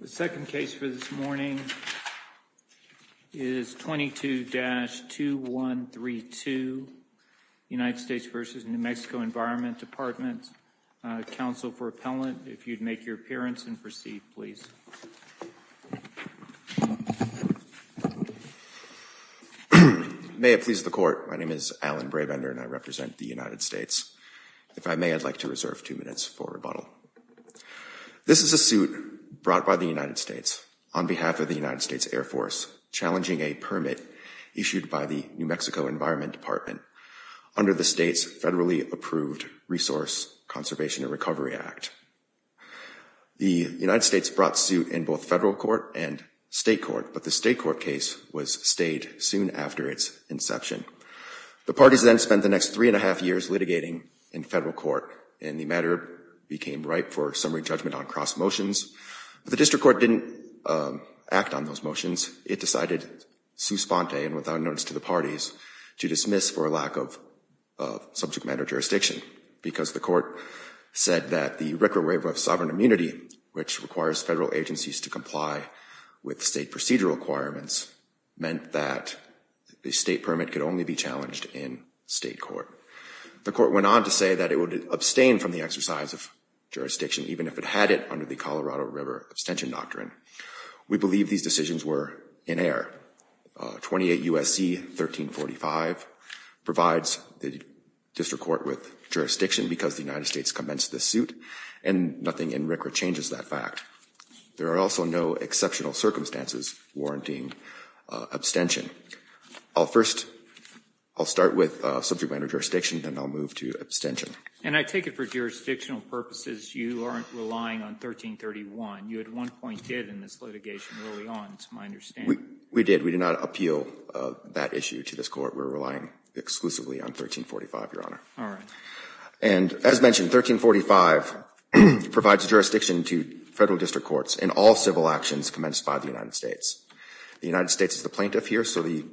The second case for this morning is 22-2132, United States v. New Mexico Environment Department. Counsel for appellant, if you'd make your appearance and proceed, please. May it please the court. My name is Alan Brabender and I represent the United States. If I may, I'd like to reserve two minutes for rebuttal. This is a suit brought by the United States on behalf of the United States Air Force challenging a permit issued by the New Mexico Environment Department under the state's federally approved Resource Conservation and Recovery Act. The United States brought suit in both federal court and state court, but the state court case was stayed soon after its inception. The parties then spent the next three and a half years litigating in federal court and the matter became ripe for summary judgment on cross motions. The district court didn't act on those motions. It decided souspende and without notice to the parties to dismiss for a lack of subject matter jurisdiction because the court said that the require of sovereign immunity, which requires federal agencies to comply with state procedural requirements, meant that the state permit could only be challenged in state court. The court went on to say that it would abstain from the exercise of jurisdiction even if it had it under the Colorado River abstention doctrine. We believe these decisions were in error. 28 U.S.C. 1345 provides the district court with jurisdiction because the United States commenced this suit and nothing in record changes that fact. There are also no exceptional circumstances warranting abstention. I'll first, I'll start with subject matter jurisdiction, then I'll move to abstention. And I take it for jurisdictional purposes you aren't relying on 1331. You at one point did in this litigation early on, it's my understanding. We did. We did not appeal that issue to this court. We're relying exclusively on 1345, Your Honor. All right. And as mentioned, 1345 provides jurisdiction to federal district courts in all civil actions commenced by the United States. The United States is the plaintiff here, so the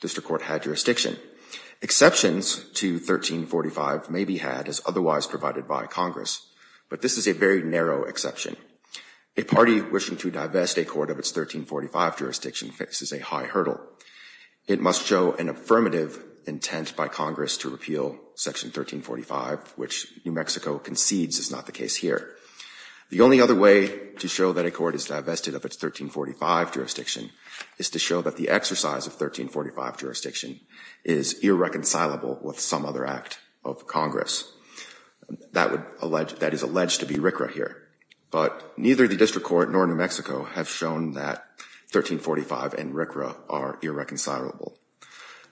district court had jurisdiction. Exceptions to 1345 may be had as otherwise provided by Congress. But this is a very narrow exception. A party wishing to divest a court of its 1345 jurisdiction faces a high hurdle. It must show an affirmative intent by Congress to repeal section 1345, which New Mexico concedes is not the case here. The only other way to show that a court is divested of its 1345 jurisdiction is to show that the exercise of 1345 jurisdiction is irreconcilable with some other act of Congress that would, that is alleged to be RCRA here. But neither the district court nor New Mexico have shown that 1345 and RCRA are irreconcilable.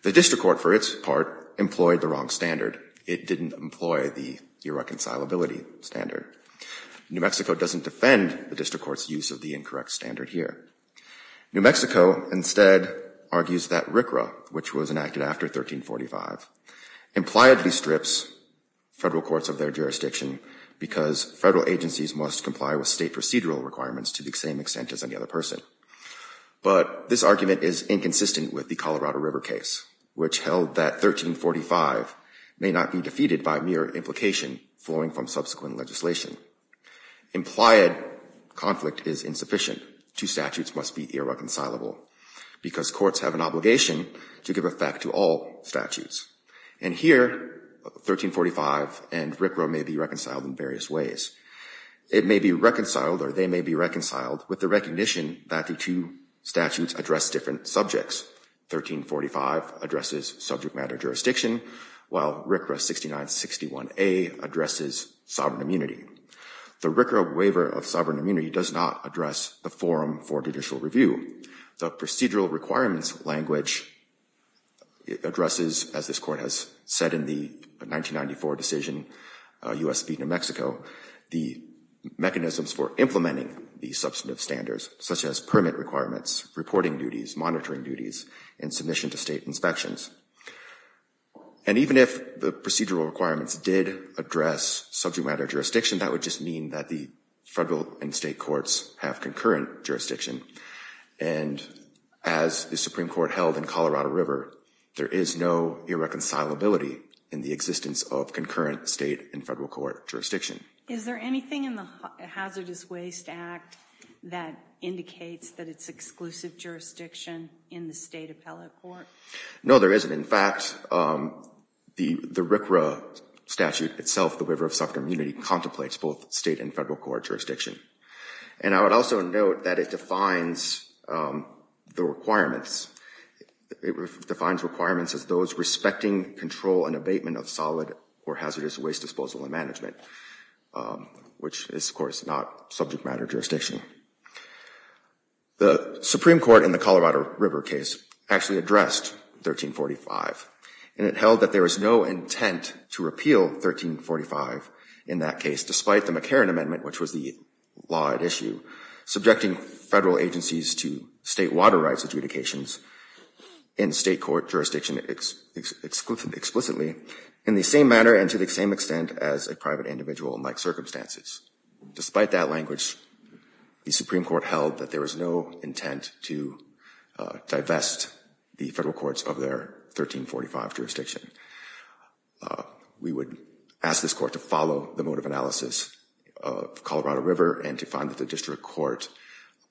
The district court, for its part, employed the wrong standard. It didn't employ the irreconcilability standard. New Mexico doesn't defend the district court's use of the incorrect standard here. New Mexico instead argues that RCRA, which was enacted after 1345, impliedly strips federal courts of their jurisdiction because federal agencies must comply with state procedural requirements to the same extent as any other person. But this argument is inconsistent with the Colorado River case, which held that 1345 may not be defeated by mere implication flowing from subsequent legislation. Implied conflict is insufficient. Two statutes must be irreconcilable because courts have an obligation to give effect to all statutes. And here, 1345 and RCRA may be reconciled in various ways. It may be reconciled or they may be reconciled with the recognition that the two statutes address different subjects. 1345 addresses subject matter jurisdiction, while RCRA 6961A addresses sovereign immunity. The RCRA waiver of sovereign immunity does not address the forum for judicial review. The procedural requirements language addresses, as this court has said in the 1994 decision, U.S. v. New Mexico, the mechanisms for implementing the substantive standards, such as permit requirements, reporting duties, monitoring duties, and submission to state inspections. And even if the procedural requirements did address subject matter jurisdiction, that would just mean that the federal and state courts have concurrent jurisdiction. And as the Supreme Court held in Colorado River, there is no irreconcilability in the existence of concurrent state and federal court jurisdiction. Is there anything in the Hazardous Waste Act that indicates that it's exclusive jurisdiction in the state appellate court? No, there isn't. In fact, the RCRA statute itself, the waiver of sovereign immunity, contemplates both state and federal court jurisdiction. And I would also note that it defines the requirements. It defines requirements as those respecting control and abatement of solid or hazardous waste disposal and management, which is, of course, not subject matter jurisdiction. The Supreme Court in the Colorado River case actually addressed 1345. And it held that there was no intent to repeal 1345 in that case, despite the McCarran Amendment, which was the law at issue, subjecting federal agencies to state water rights adjudications in state court jurisdiction explicitly. In the same manner and to the same extent as a private individual in like circumstances. Despite that language, the Supreme Court held that there was no intent to divest the federal courts of their 1345 jurisdiction. We would ask this court to follow the mode of analysis of Colorado River and to find that the district court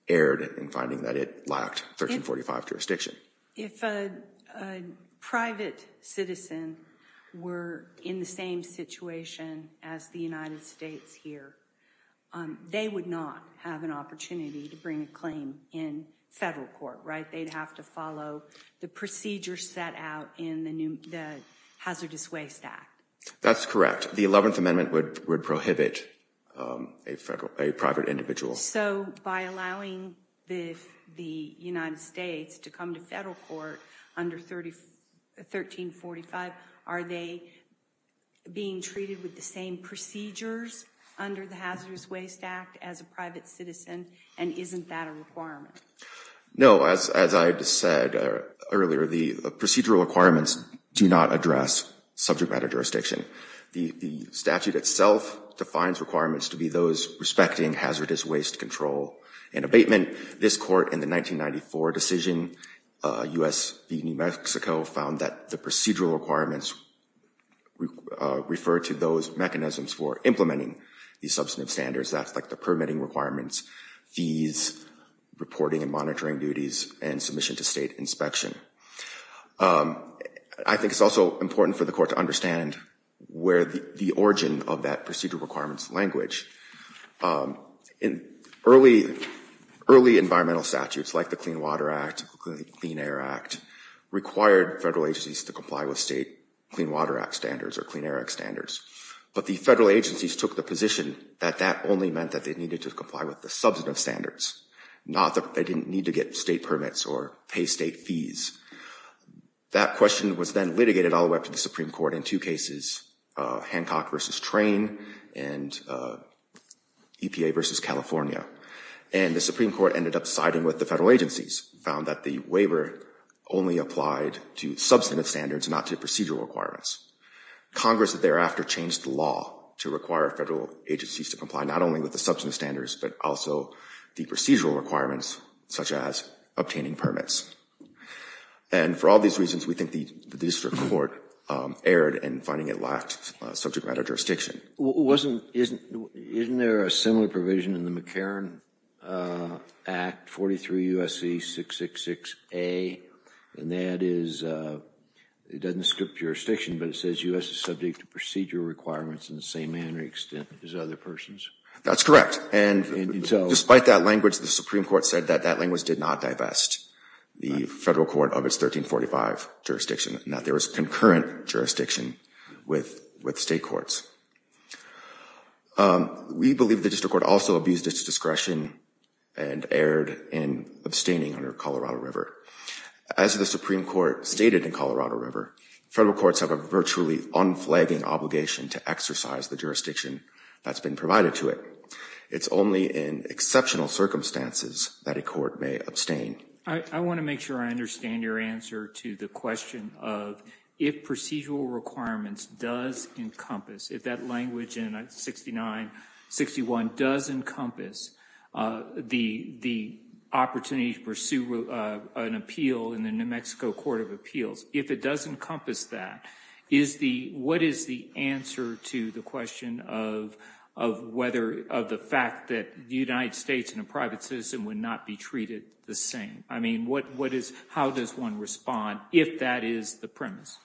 erred in finding that it lacked 1345 jurisdiction. If a private citizen were in the same situation as the United States here, they would not have an opportunity to bring a claim in federal court, right? They'd have to follow the procedure set out in the Hazardous Waste Act. That's correct. The 11th Amendment would prohibit a private individual. So by allowing the United States to come to federal court under 1345, are they being treated with the same procedures under the Hazardous Waste Act as a private citizen? And isn't that a requirement? No, as I just said earlier, the procedural requirements do not address subject matter jurisdiction. The statute itself defines requirements to be those respecting hazardous waste control and abatement. This court in the 1994 decision, U.S. v. New Mexico found that the procedural requirements refer to those mechanisms for implementing these substantive standards. That's like the permitting requirements, fees, reporting, and monitoring duties, and submission to state inspection. I think it's also important for the court to understand where the origin of that procedural requirements language. In early, early environmental statutes like the Clean Water Act, Clean Air Act, required federal agencies to comply with state Clean Water Act standards or Clean Air Act standards. But the federal agencies took the position that that only meant that they needed to comply with the substantive standards, not that they didn't need to get state permits or pay state fees. That question was then litigated all the way up to the Supreme Court in two cases, Hancock v. Train and EPA v. California. And the Supreme Court ended up siding with the federal agencies, found that the waiver only applied to substantive standards, not to procedural requirements. Congress thereafter changed the law to require federal agencies to comply not only with the substantive standards, but also the procedural requirements such as obtaining permits. And for all these reasons, we think the district court erred in finding it lacked subject matter jurisdiction. Isn't there a similar provision in the McCarran Act, 43 U.S.C. 666A? And that is, it doesn't script jurisdiction, but it says U.S. is subject to procedural requirements in the same manner, extent as other persons. That's correct. And despite that language, the Supreme Court said that that language did not divest the federal court of 1345 jurisdiction and that there was concurrent jurisdiction with state courts. We believe the district court also abused its discretion and erred in abstaining under Colorado River. As the Supreme Court stated in Colorado River, federal courts have a virtually unflagging obligation to exercise the jurisdiction that's been provided to it. It's only in exceptional circumstances that a court may abstain. I want to make sure I understand your answer to the question of if procedural requirements does encompass, if that language in 69-61 does encompass the opportunity to pursue an appeal in the New Mexico Court of Appeals, if it does encompass that, is the, what is the answer to the question of whether, of the fact that the United States and a private citizen would not be treated the same? I mean, what, what is, how does one respond if that is the premise?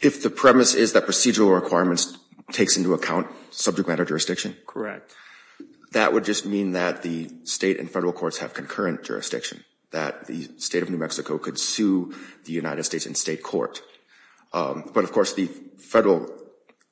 If the premise is that procedural requirements takes into account subject matter jurisdiction? Correct. That would just mean that the state and federal courts have concurrent jurisdiction, that the state of New Mexico could sue the United States in state court. But of course the federal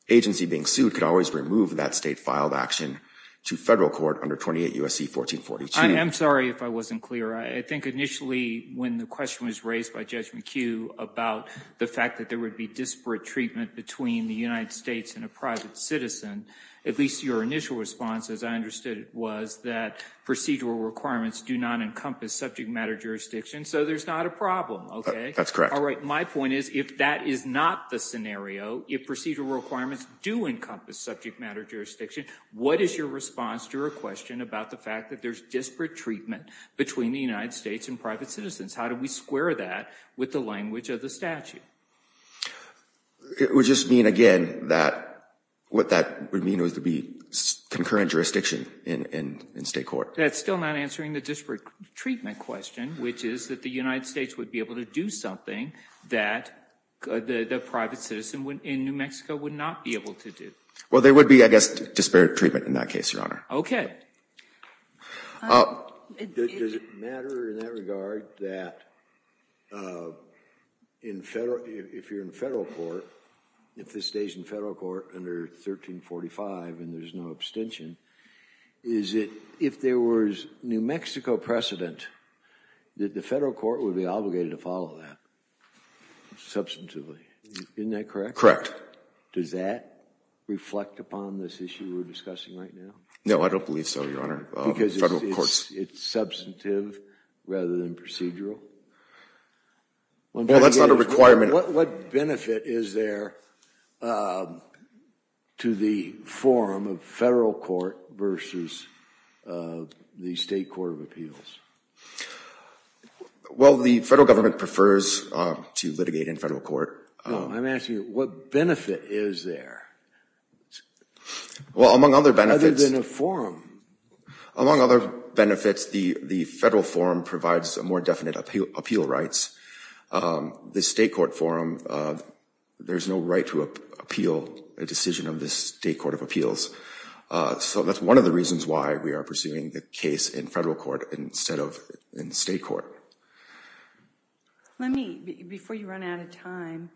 agency being sued could always remove that state filed action to federal court under 28 U.S.C. 1442. I'm sorry if I wasn't clear. I think initially when the question was raised by Judge McHugh about the fact that there would be disparate treatment between the United States and a private citizen, at least your initial response, as I understood it was that procedural requirements do not encompass subject matter jurisdiction. So there's not a problem. Okay. That's correct. All right. My point is, if that is not the scenario, if procedural requirements do encompass subject matter jurisdiction, what is your response to her question about the fact that there's disparate treatment between the United States and private citizens? How do we square that with the language of the statute? It would just mean again, that what that would mean was to be concurrent jurisdiction in state court. That's still not answering the disparate treatment question, which is that the United States would be able to do something that the private citizen in New Mexico would not be able to do. Well, there would be, I guess, disparate treatment in that case, Your Honor. Does it matter in that regard that in federal, if you're in federal court, if this stays in federal court under 1345 and there's no abstention, is it, if there was New Mexico precedent, that the federal court would be obligated to follow that substantively. Isn't that correct? Correct. Does that reflect upon this issue we're discussing right now? No, I don't believe so, Your Honor. Because it's substantive rather than procedural. Well, that's not a requirement. What benefit is there to the form of federal court versus the state court of appeals? Well, the federal government prefers to litigate in federal court. I'm asking you, what benefit is there? Well, among other benefits. Other than a forum. Among other benefits, the federal forum provides a more definite appeal rights. The state court forum, there's no right to appeal a decision of the state court of appeals. So that's one of the reasons why we are pursuing the case in federal court instead of in state court. Let me, before you run out of time,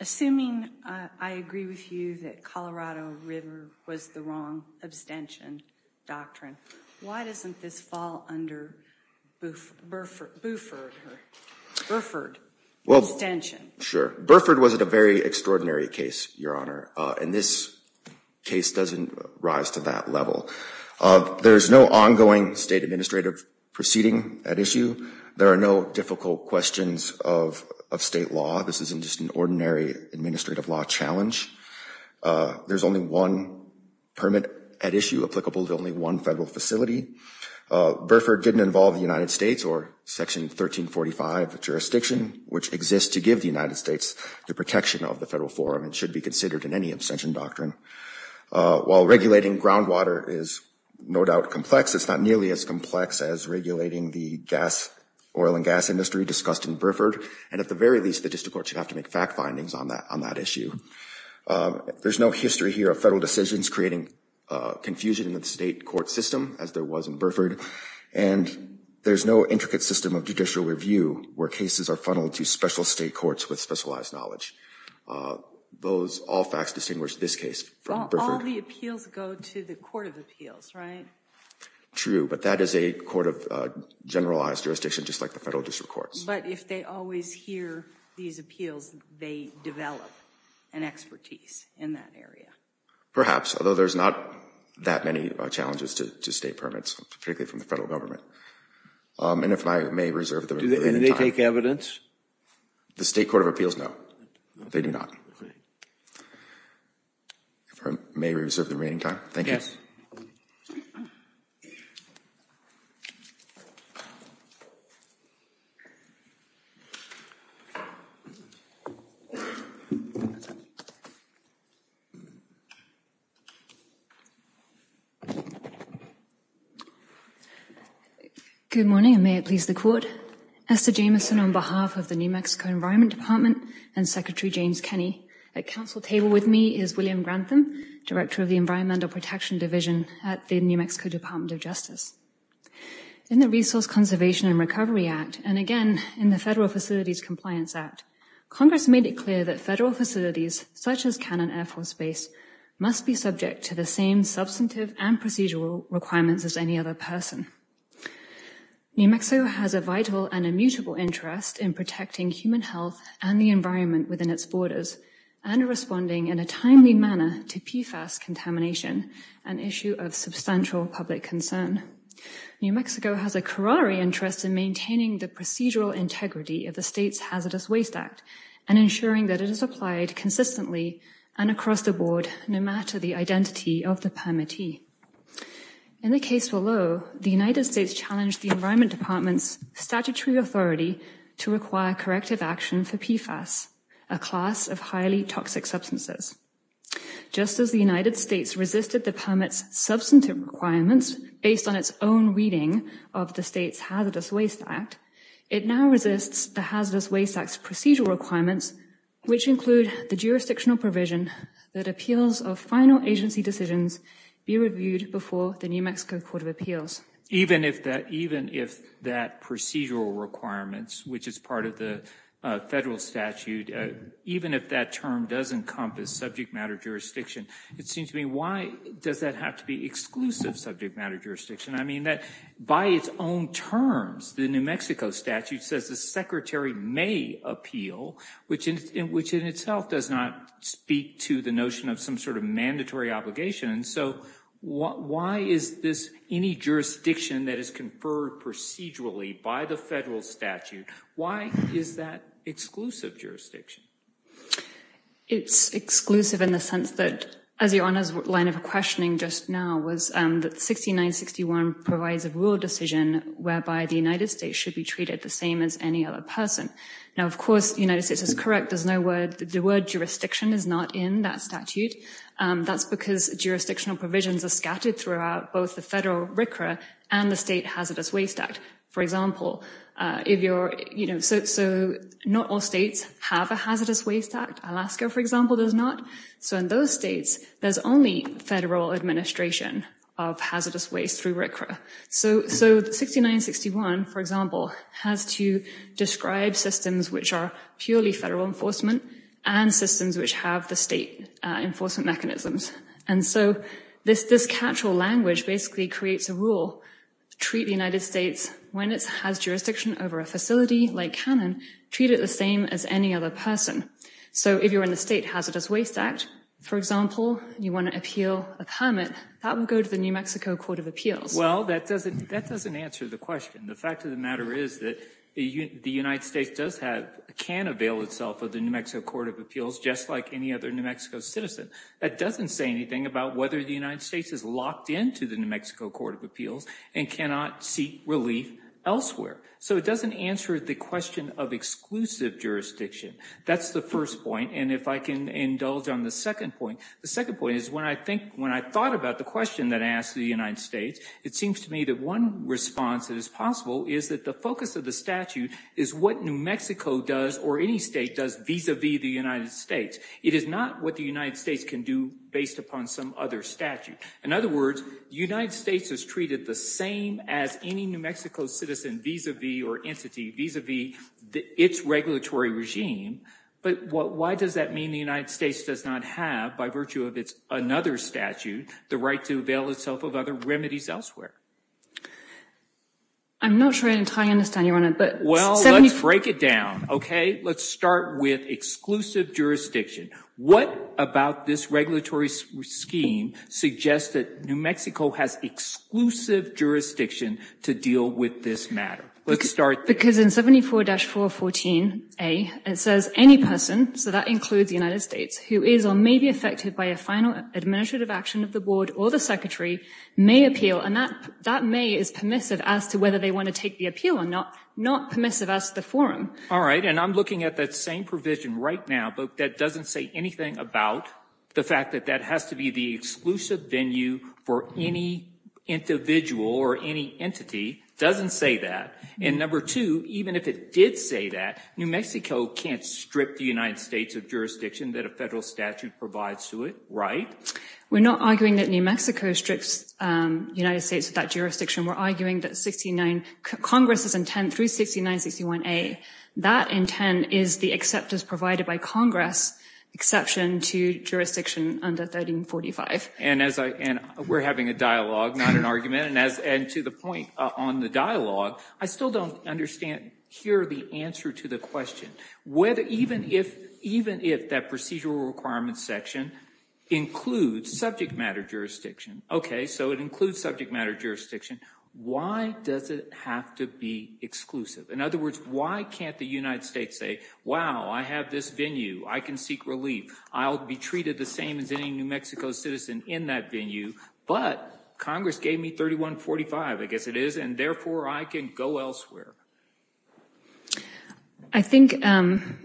assuming I agree with you that Colorado River was the wrong abstention doctrine, why doesn't this fall under Burford abstention? Sure. Burford was at a very extraordinary case, Your Honor. And this case doesn't rise to that level. There is no ongoing state administrative proceeding at issue. There are no difficult questions of state law. This isn't just an ordinary administrative law challenge. There's only one permit at issue applicable to only one federal facility. Burford didn't involve the United States or section 1345 of the jurisdiction, which exists to give the United States the protection of the federal forum. It should be considered in any abstention doctrine. While regulating groundwater is no doubt complex, it's not nearly as complex as regulating the gas oil and gas industry discussed in Burford. And at the very least, the district court should have to make fact findings on that, on that issue. There's no history here of federal decisions creating confusion in the state court system as there was in Burford. And there's no intricate system of judicial review where cases are funneled to special state courts with specialized knowledge. Those all facts distinguish this case from Burford. All the appeals go to the court of appeals, right? True. But that is a court of generalized jurisdiction, just like the federal district courts. But if they always hear these appeals, they develop an expertise in that area. Perhaps, although there's not that many challenges to state permits, particularly from the federal government. And if I may reserve the remaining time. Do they take evidence? The state court of appeals, no. They do not. If I may reserve the remaining time. Thank you. Good morning. And may it please the court. Esther Jamieson on behalf of the New Mexico Environment Department and Secretary James Kenney. At council table with me is William Grantham, Director of the Environmental Protection Division at the New Mexico Department of Justice. In the Resource Conservation and Recovery Act, and again in the Federal Facilities Compliance Act, Congress made it clear that federal facilities such as Cannon Air Force Base must be subject to the same substantive and procedural requirements as any other person. New Mexico has a vital and immutable interest in protecting human health and the environment within its borders and responding in a timely manner to PFAS contamination, an issue of substantial public concern. New Mexico has a curare interest in maintaining the procedural integrity of the state's hazardous waste act and ensuring that it is applied consistently and across the board, no matter the identity of the permittee. In the case below, the United States challenged the environment department's statutory authority to require corrective action for PFAS, a class of highly toxic substances. Just as the United States resisted the permits substantive requirements based on its own reading of the state's hazardous waste act, it now resists the hazardous waste acts procedural requirements, which include the jurisdictional provision that appeals of final agency decisions be reviewed before the New Mexico Court of Appeals. Even if that, even if that procedural requirements, which is part of the federal statute, even if that term doesn't encompass subject matter jurisdiction, it seems to me, why does that have to be exclusive subject matter jurisdiction? I mean that by its own terms, the New Mexico statute says the secretary may appeal, which in, which in itself does not speak to the notion of some sort of mandatory obligation. And so why is this any jurisdiction that is conferred procedurally by the federal statute? Why is that exclusive jurisdiction? It's exclusive in the sense that as your Honor's line of questioning just now was that 6961 provides a rule decision whereby the United States should be treated the same as any other person. Now, of course, United States is correct. There's no word, the word jurisdiction is not in that statute. That's because jurisdictional provisions are scattered throughout both the federal RCRA and the State Hazardous Waste Act. For example, if you're, you know, so, so not all states have a Hazardous Waste Act. Alaska, for example, does not. So in those states, there's only federal administration of hazardous waste through RCRA. So, so 6961, for example, has to describe systems which are purely federal enforcement and systems which have the state enforcement mechanisms. And so this, this casual language basically creates a rule, treat the United States when it has jurisdiction over a facility like Canon, treat it the same as any other person. So if you're in the State Hazardous Waste Act, for example, you want to appeal a permit that would go to the New Mexico Court of Appeals. Well, that doesn't, that doesn't answer the question. The fact of the matter is that the United States does have, can avail itself of the New Mexico Court of Appeals, just like any other New Mexico citizen. That doesn't say anything about whether the United States is locked into the New Mexico Court of Appeals and cannot seek relief elsewhere. So it doesn't answer the question of exclusive jurisdiction. That's the first point. And if I can indulge on the second point, the second point is when I think, when I thought about the question that asked the United States, it seems to me that one response that is possible is that the focus of the statute is what New Mexico does, or any state does vis-a-vis the United States. It is not what the United States can do based upon some other statute. In other words, the United States is treated the same as any New Mexico citizen vis-a-vis or entity vis-a-vis its regulatory regime. But what, why does that mean the United States does not have by virtue of its another statute, the right to avail itself of other remedies elsewhere? I'm not sure I entirely understand, Your Honor, but... Well, let's break it down. Okay. Let's start with exclusive jurisdiction. What about this regulatory scheme suggests that New Mexico has exclusive jurisdiction to deal with this matter? Let's start there. Because in 74-414A, it says any person, so that includes the United States, who is or may be affected by a final administrative action of the board or the secretary may appeal. And that may is permissive as to whether they want to take the appeal or not, not permissive as to the forum. All right. And I'm looking at that same provision right now, but that doesn't say anything about the fact that that has to be the exclusive venue for any individual or any entity. Doesn't say that. And number two, even if it did say that, New Mexico can't strip the United States of jurisdiction that a federal statute provides to it, right? We're not arguing that New Mexico strips United States of that jurisdiction. We're arguing that 69, Congress's intent through 69-61A, that intent is the acceptance provided by Congress exception to jurisdiction under 1345. And as I, and we're having a dialogue, not an argument. And as, and to the point on the dialogue, I still don't understand here the answer to the question, whether, even if, even if that procedural requirements section includes subject matter jurisdiction. Okay. So it includes subject matter jurisdiction. Why does it have to be exclusive? In other words, why can't the United States say, wow, I have this venue. I can seek relief. I'll be treated the same as any New Mexico citizen in that venue, but Congress gave me 3145, I guess it is. And therefore I can go elsewhere. I think, um,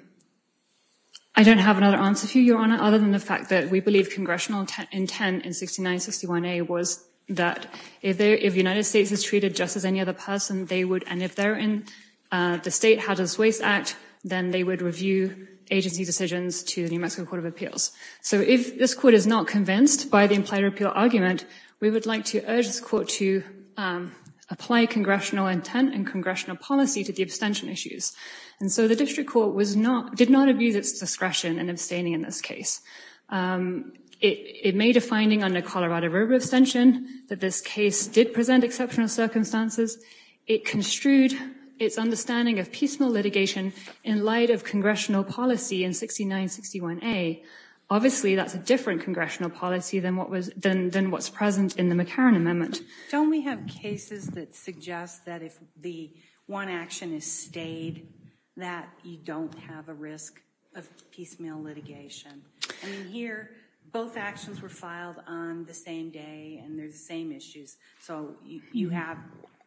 I don't have another answer for you, Your Honor, other than the fact that we believe congressional intent in 69-61A was that if there, if United States is treated just as any other person, they would, and if they're in the state hazardous waste act, then they would review agency decisions to the New Mexico court of appeals. So if this court is not convinced by the implied repeal argument, we would like to urge this court to, um, apply congressional intent and congressional policy to the abstention issues. And so the district court was not, did not abuse its discretion and abstaining in this case. Um, it, it made a finding on the Colorado River abstention that this case did present exceptional circumstances. It construed its understanding of peaceful litigation in light of congressional policy in 69-61A. Obviously that's a different congressional policy than what was done, than what's present in the McCarran Amendment. Don't we have cases that suggest that if the one action is stayed, that you don't have a risk of piecemeal litigation? I mean, here both actions were filed on the same day and they're the same issues. So you have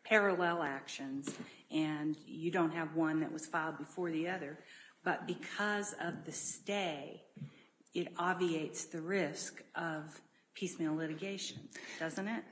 parallel actions and you don't have one that was filed before the other, but because of the stay, it obviates the risk of piecemeal litigation, doesn't it?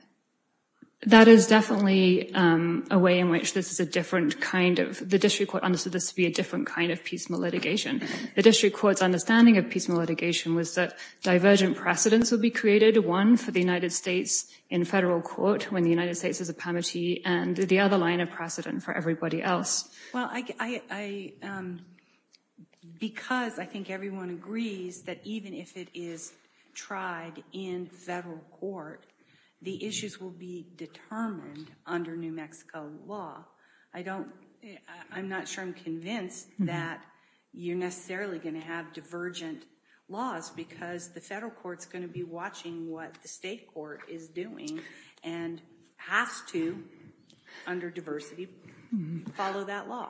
That is definitely, um, a way in which this is a different kind of, the district court understood this to be a different kind of piecemeal litigation. The district court's understanding of piecemeal litigation was that divergent precedents will be created. One for the United States in federal court when the United States has a pamity and the other line of precedent for everybody else. Well, I, I, um, because I think everyone agrees that even if it is tried in federal court, the issues will be determined under New Mexico law. I don't, I'm not sure I'm convinced that you're necessarily going to have divergent laws because the federal court's going to be watching what the state court is doing and has to under diversity follow that law.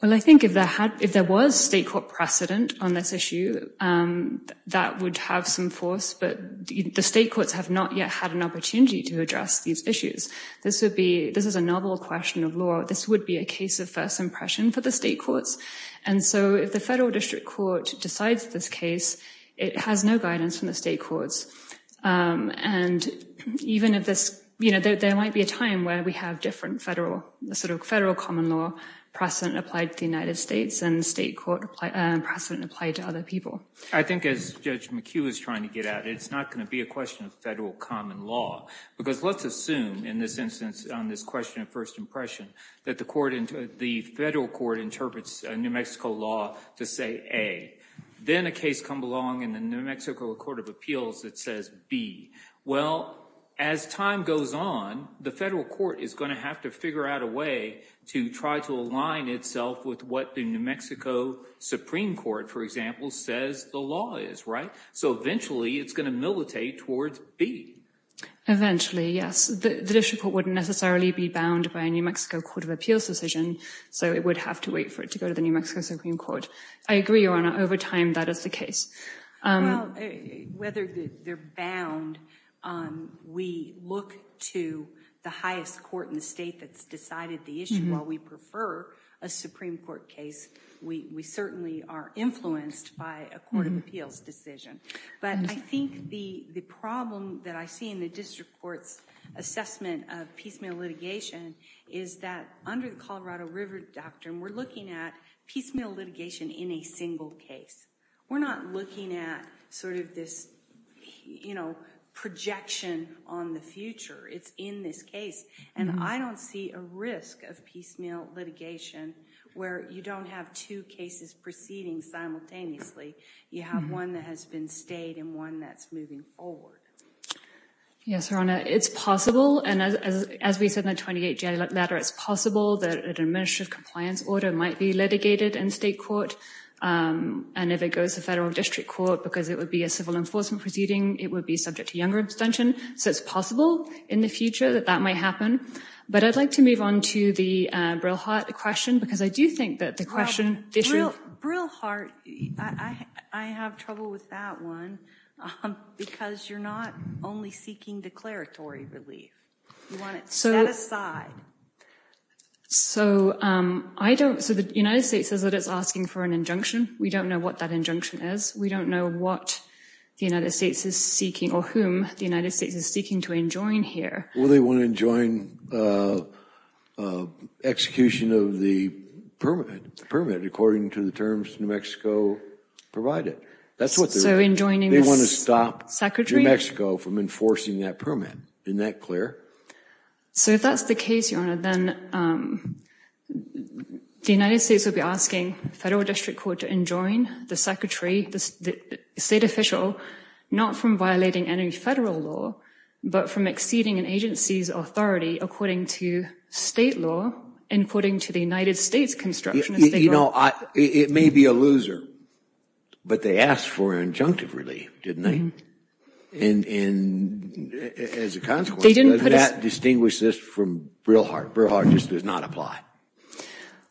Well, I think if there had, if there was state court precedent on this issue, um, that would have some force, but the state courts have not yet had an opportunity to address these issues. This would be, this is a novel question of law. This would be a case of first impression for the state courts. And so if the federal district court decides this case, it has no guidance from the state courts. Um, and even if this, you know, there, there might be a time where we have different federal sort of federal common law precedent applied to the United States and state court precedent applied to other people. I think as Judge McHugh is trying to get out, it's not going to be a question of federal common law because let's assume in this instance, on this question of first impression that the court, the federal court interprets a New Mexico law to say, a then a case come along in the New Mexico court of appeals that says B. Well, as time goes on, the federal court is going to have to figure out a way to try to align itself with what the New Mexico Supreme court, for example, says the law is right. So eventually it's going to militate towards B. Eventually, yes. The district court wouldn't necessarily be bound by a New Mexico court of appeals decision. So it would have to wait for it to go to the New Mexico Supreme court. I agree, Your Honor, over time, that is the case. Whether they're bound, um, we look to the highest court in the state that's decided the issue. While we prefer a Supreme court case, we certainly are influenced by a court of appeals decision. But I think the problem that I see in the district court's assessment of piecemeal litigation is that under the Colorado river doctrine, we're looking at piecemeal litigation in a single case. We're not looking at sort of this, you know, projection on the future. It's in this case. And I don't see a risk of piecemeal litigation where you don't have two cases proceeding simultaneously. You have one that has been stayed and one that's moving forward. Yes, Your Honor. It's possible. And as, as, as we said, in the 28 January letter, it's possible that an administrative compliance order might be litigated in state court. Um, and if it goes to federal district court because it would be a civil enforcement proceeding, it would be subject to younger abstention. So it's possible in the future that that might happen. But I'd like to move on to the, uh, Brillhart question because I do think that the question. Brillhart, I have trouble with that one, because you're not only seeking declaratory relief. You want it set aside. So, um, I don't, so the United States says that it's asking for an injunction. We don't know what that injunction is. We don't know what the United States is seeking or whom the United States is seeking to enjoin here. Well, they want to enjoin, uh, uh, execution of the permanent permit, according to the terms New Mexico provided. That's what they're enjoining. They want to stop New Mexico from enforcing that permit. Isn't that clear? So if that's the case, Your Honor, then, um, the United States will be asking federal district court to enjoin the secretary, the state official, not from violating any federal law, but from exceeding an agency's authority, according to state law, according to the United States construction. It may be a loser, but they asked for an injunctive relief, didn't they? And, and as a consequence, distinguish this from Brillhart. Brillhart just does not apply.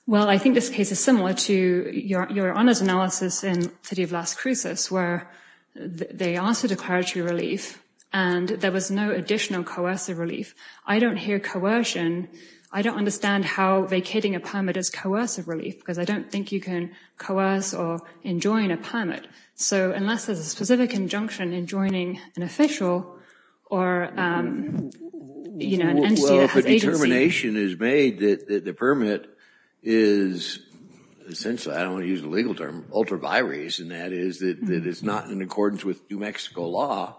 Well, I think this case is similar to your, your Honor's analysis in City of Las Cruces where they asked for declaratory relief and there was no additional coercive relief. I don't hear coercion. I don't understand how vacating a permit is coercive relief because I don't think you can coerce or enjoin a permit. So unless there's a specific injunction in joining an official or, um, you know, an entity that has agency. Well, if a determination is made that the permit is, essentially, I don't want to use the legal term, ultra vires, and that is that it is not in accordance with New Mexico law.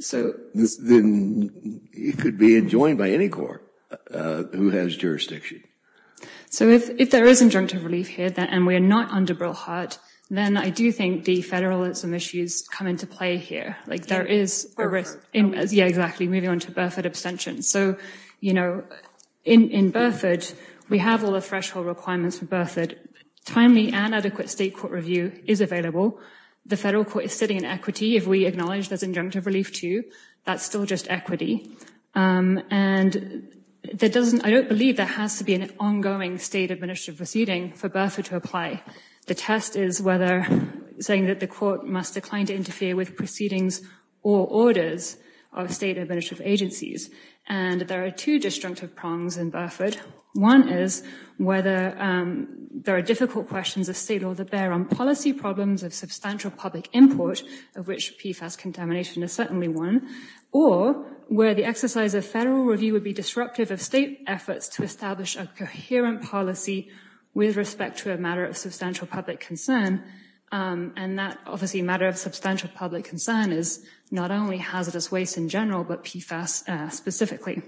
So this, then it could be enjoined by any court, uh, who has jurisdiction. So if, if there is injunctive relief here, then, and we are not under Brillhart, then I do think the federalism issues come into play here. Like there is, yeah, exactly. Moving on to Burford abstention. So, you know, in, in Burford, we have all the threshold requirements for Burford timely and adequate state court review is available. The federal court is sitting in equity. If we acknowledge there's injunctive relief too, that's still just equity. Um, and that doesn't, I don't believe there has to be an ongoing state administrative proceeding for Burford to apply. The test is whether saying that the court must decline to interfere with proceedings or orders of state administrative agencies. And there are two destructive prongs in Burford. One is whether, um, there are difficult questions of state or the bear on policy problems of substantial public import of which PFAS contamination is certainly one, or where the exercise of federal review would be disruptive of state efforts to establish a coherent policy with respect to a matter of substantial public concern. Um, and that obviously matter of substantial public concern is not only hazardous waste in general, but PFAS specifically.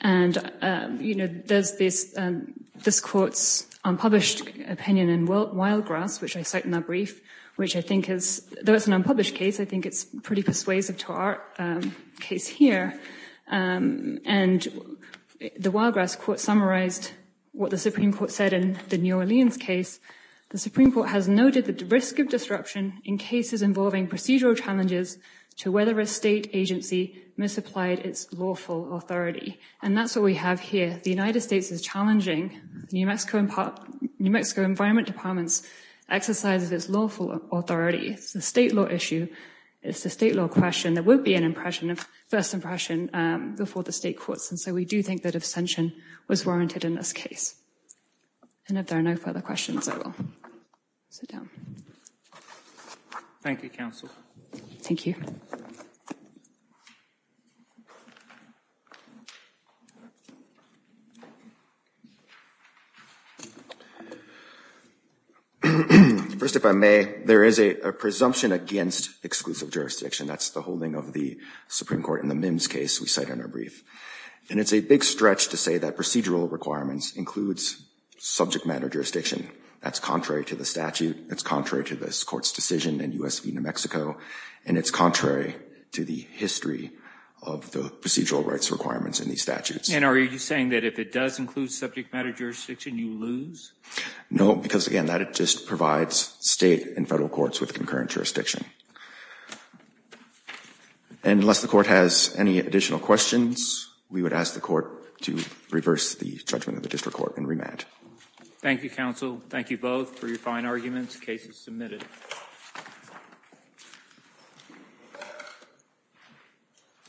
And, um, you know, there's this, um, this court's unpublished opinion in wild grass, which I cite in that brief, which I think is, though it's an unpublished case, I think it's pretty persuasive to our case here. Um, and the wild grass court summarized what the Supreme court said in the New Orleans case, the Supreme court has noted that the risk of disruption in cases involving procedural challenges to whether a state agency must apply to a case, has applied its lawful authority. And that's what we have here. The United States is challenging New Mexico and New Mexico environment departments exercises. It's lawful authority. It's the state law issue. It's the state law question. There will be an impression of first impression, um, before the state courts. And so we do think that ascension was warranted in this case. And if there are no further questions, I will sit down. Thank you, counsel. Thank you. First, if I may, there is a presumption against exclusive jurisdiction. That's the holding of the Supreme court in the MIMS case we cite in our brief. And it's a big stretch to say that procedural requirements includes subject matter jurisdiction. That's contrary to the statute. It's contrary to this court's decision and U S V New Mexico. And it's contrary to the history of the procedural rights requirements in these statutes. And are you saying that if it does include subject matter jurisdiction, you lose? No, because again, that it just provides state and federal courts with concurrent jurisdiction. And unless the court has any additional questions, we would ask the court to reverse the judgment of the district court and remand. Thank you, counsel. Thank you both for your fine arguments cases submitted. Thank you.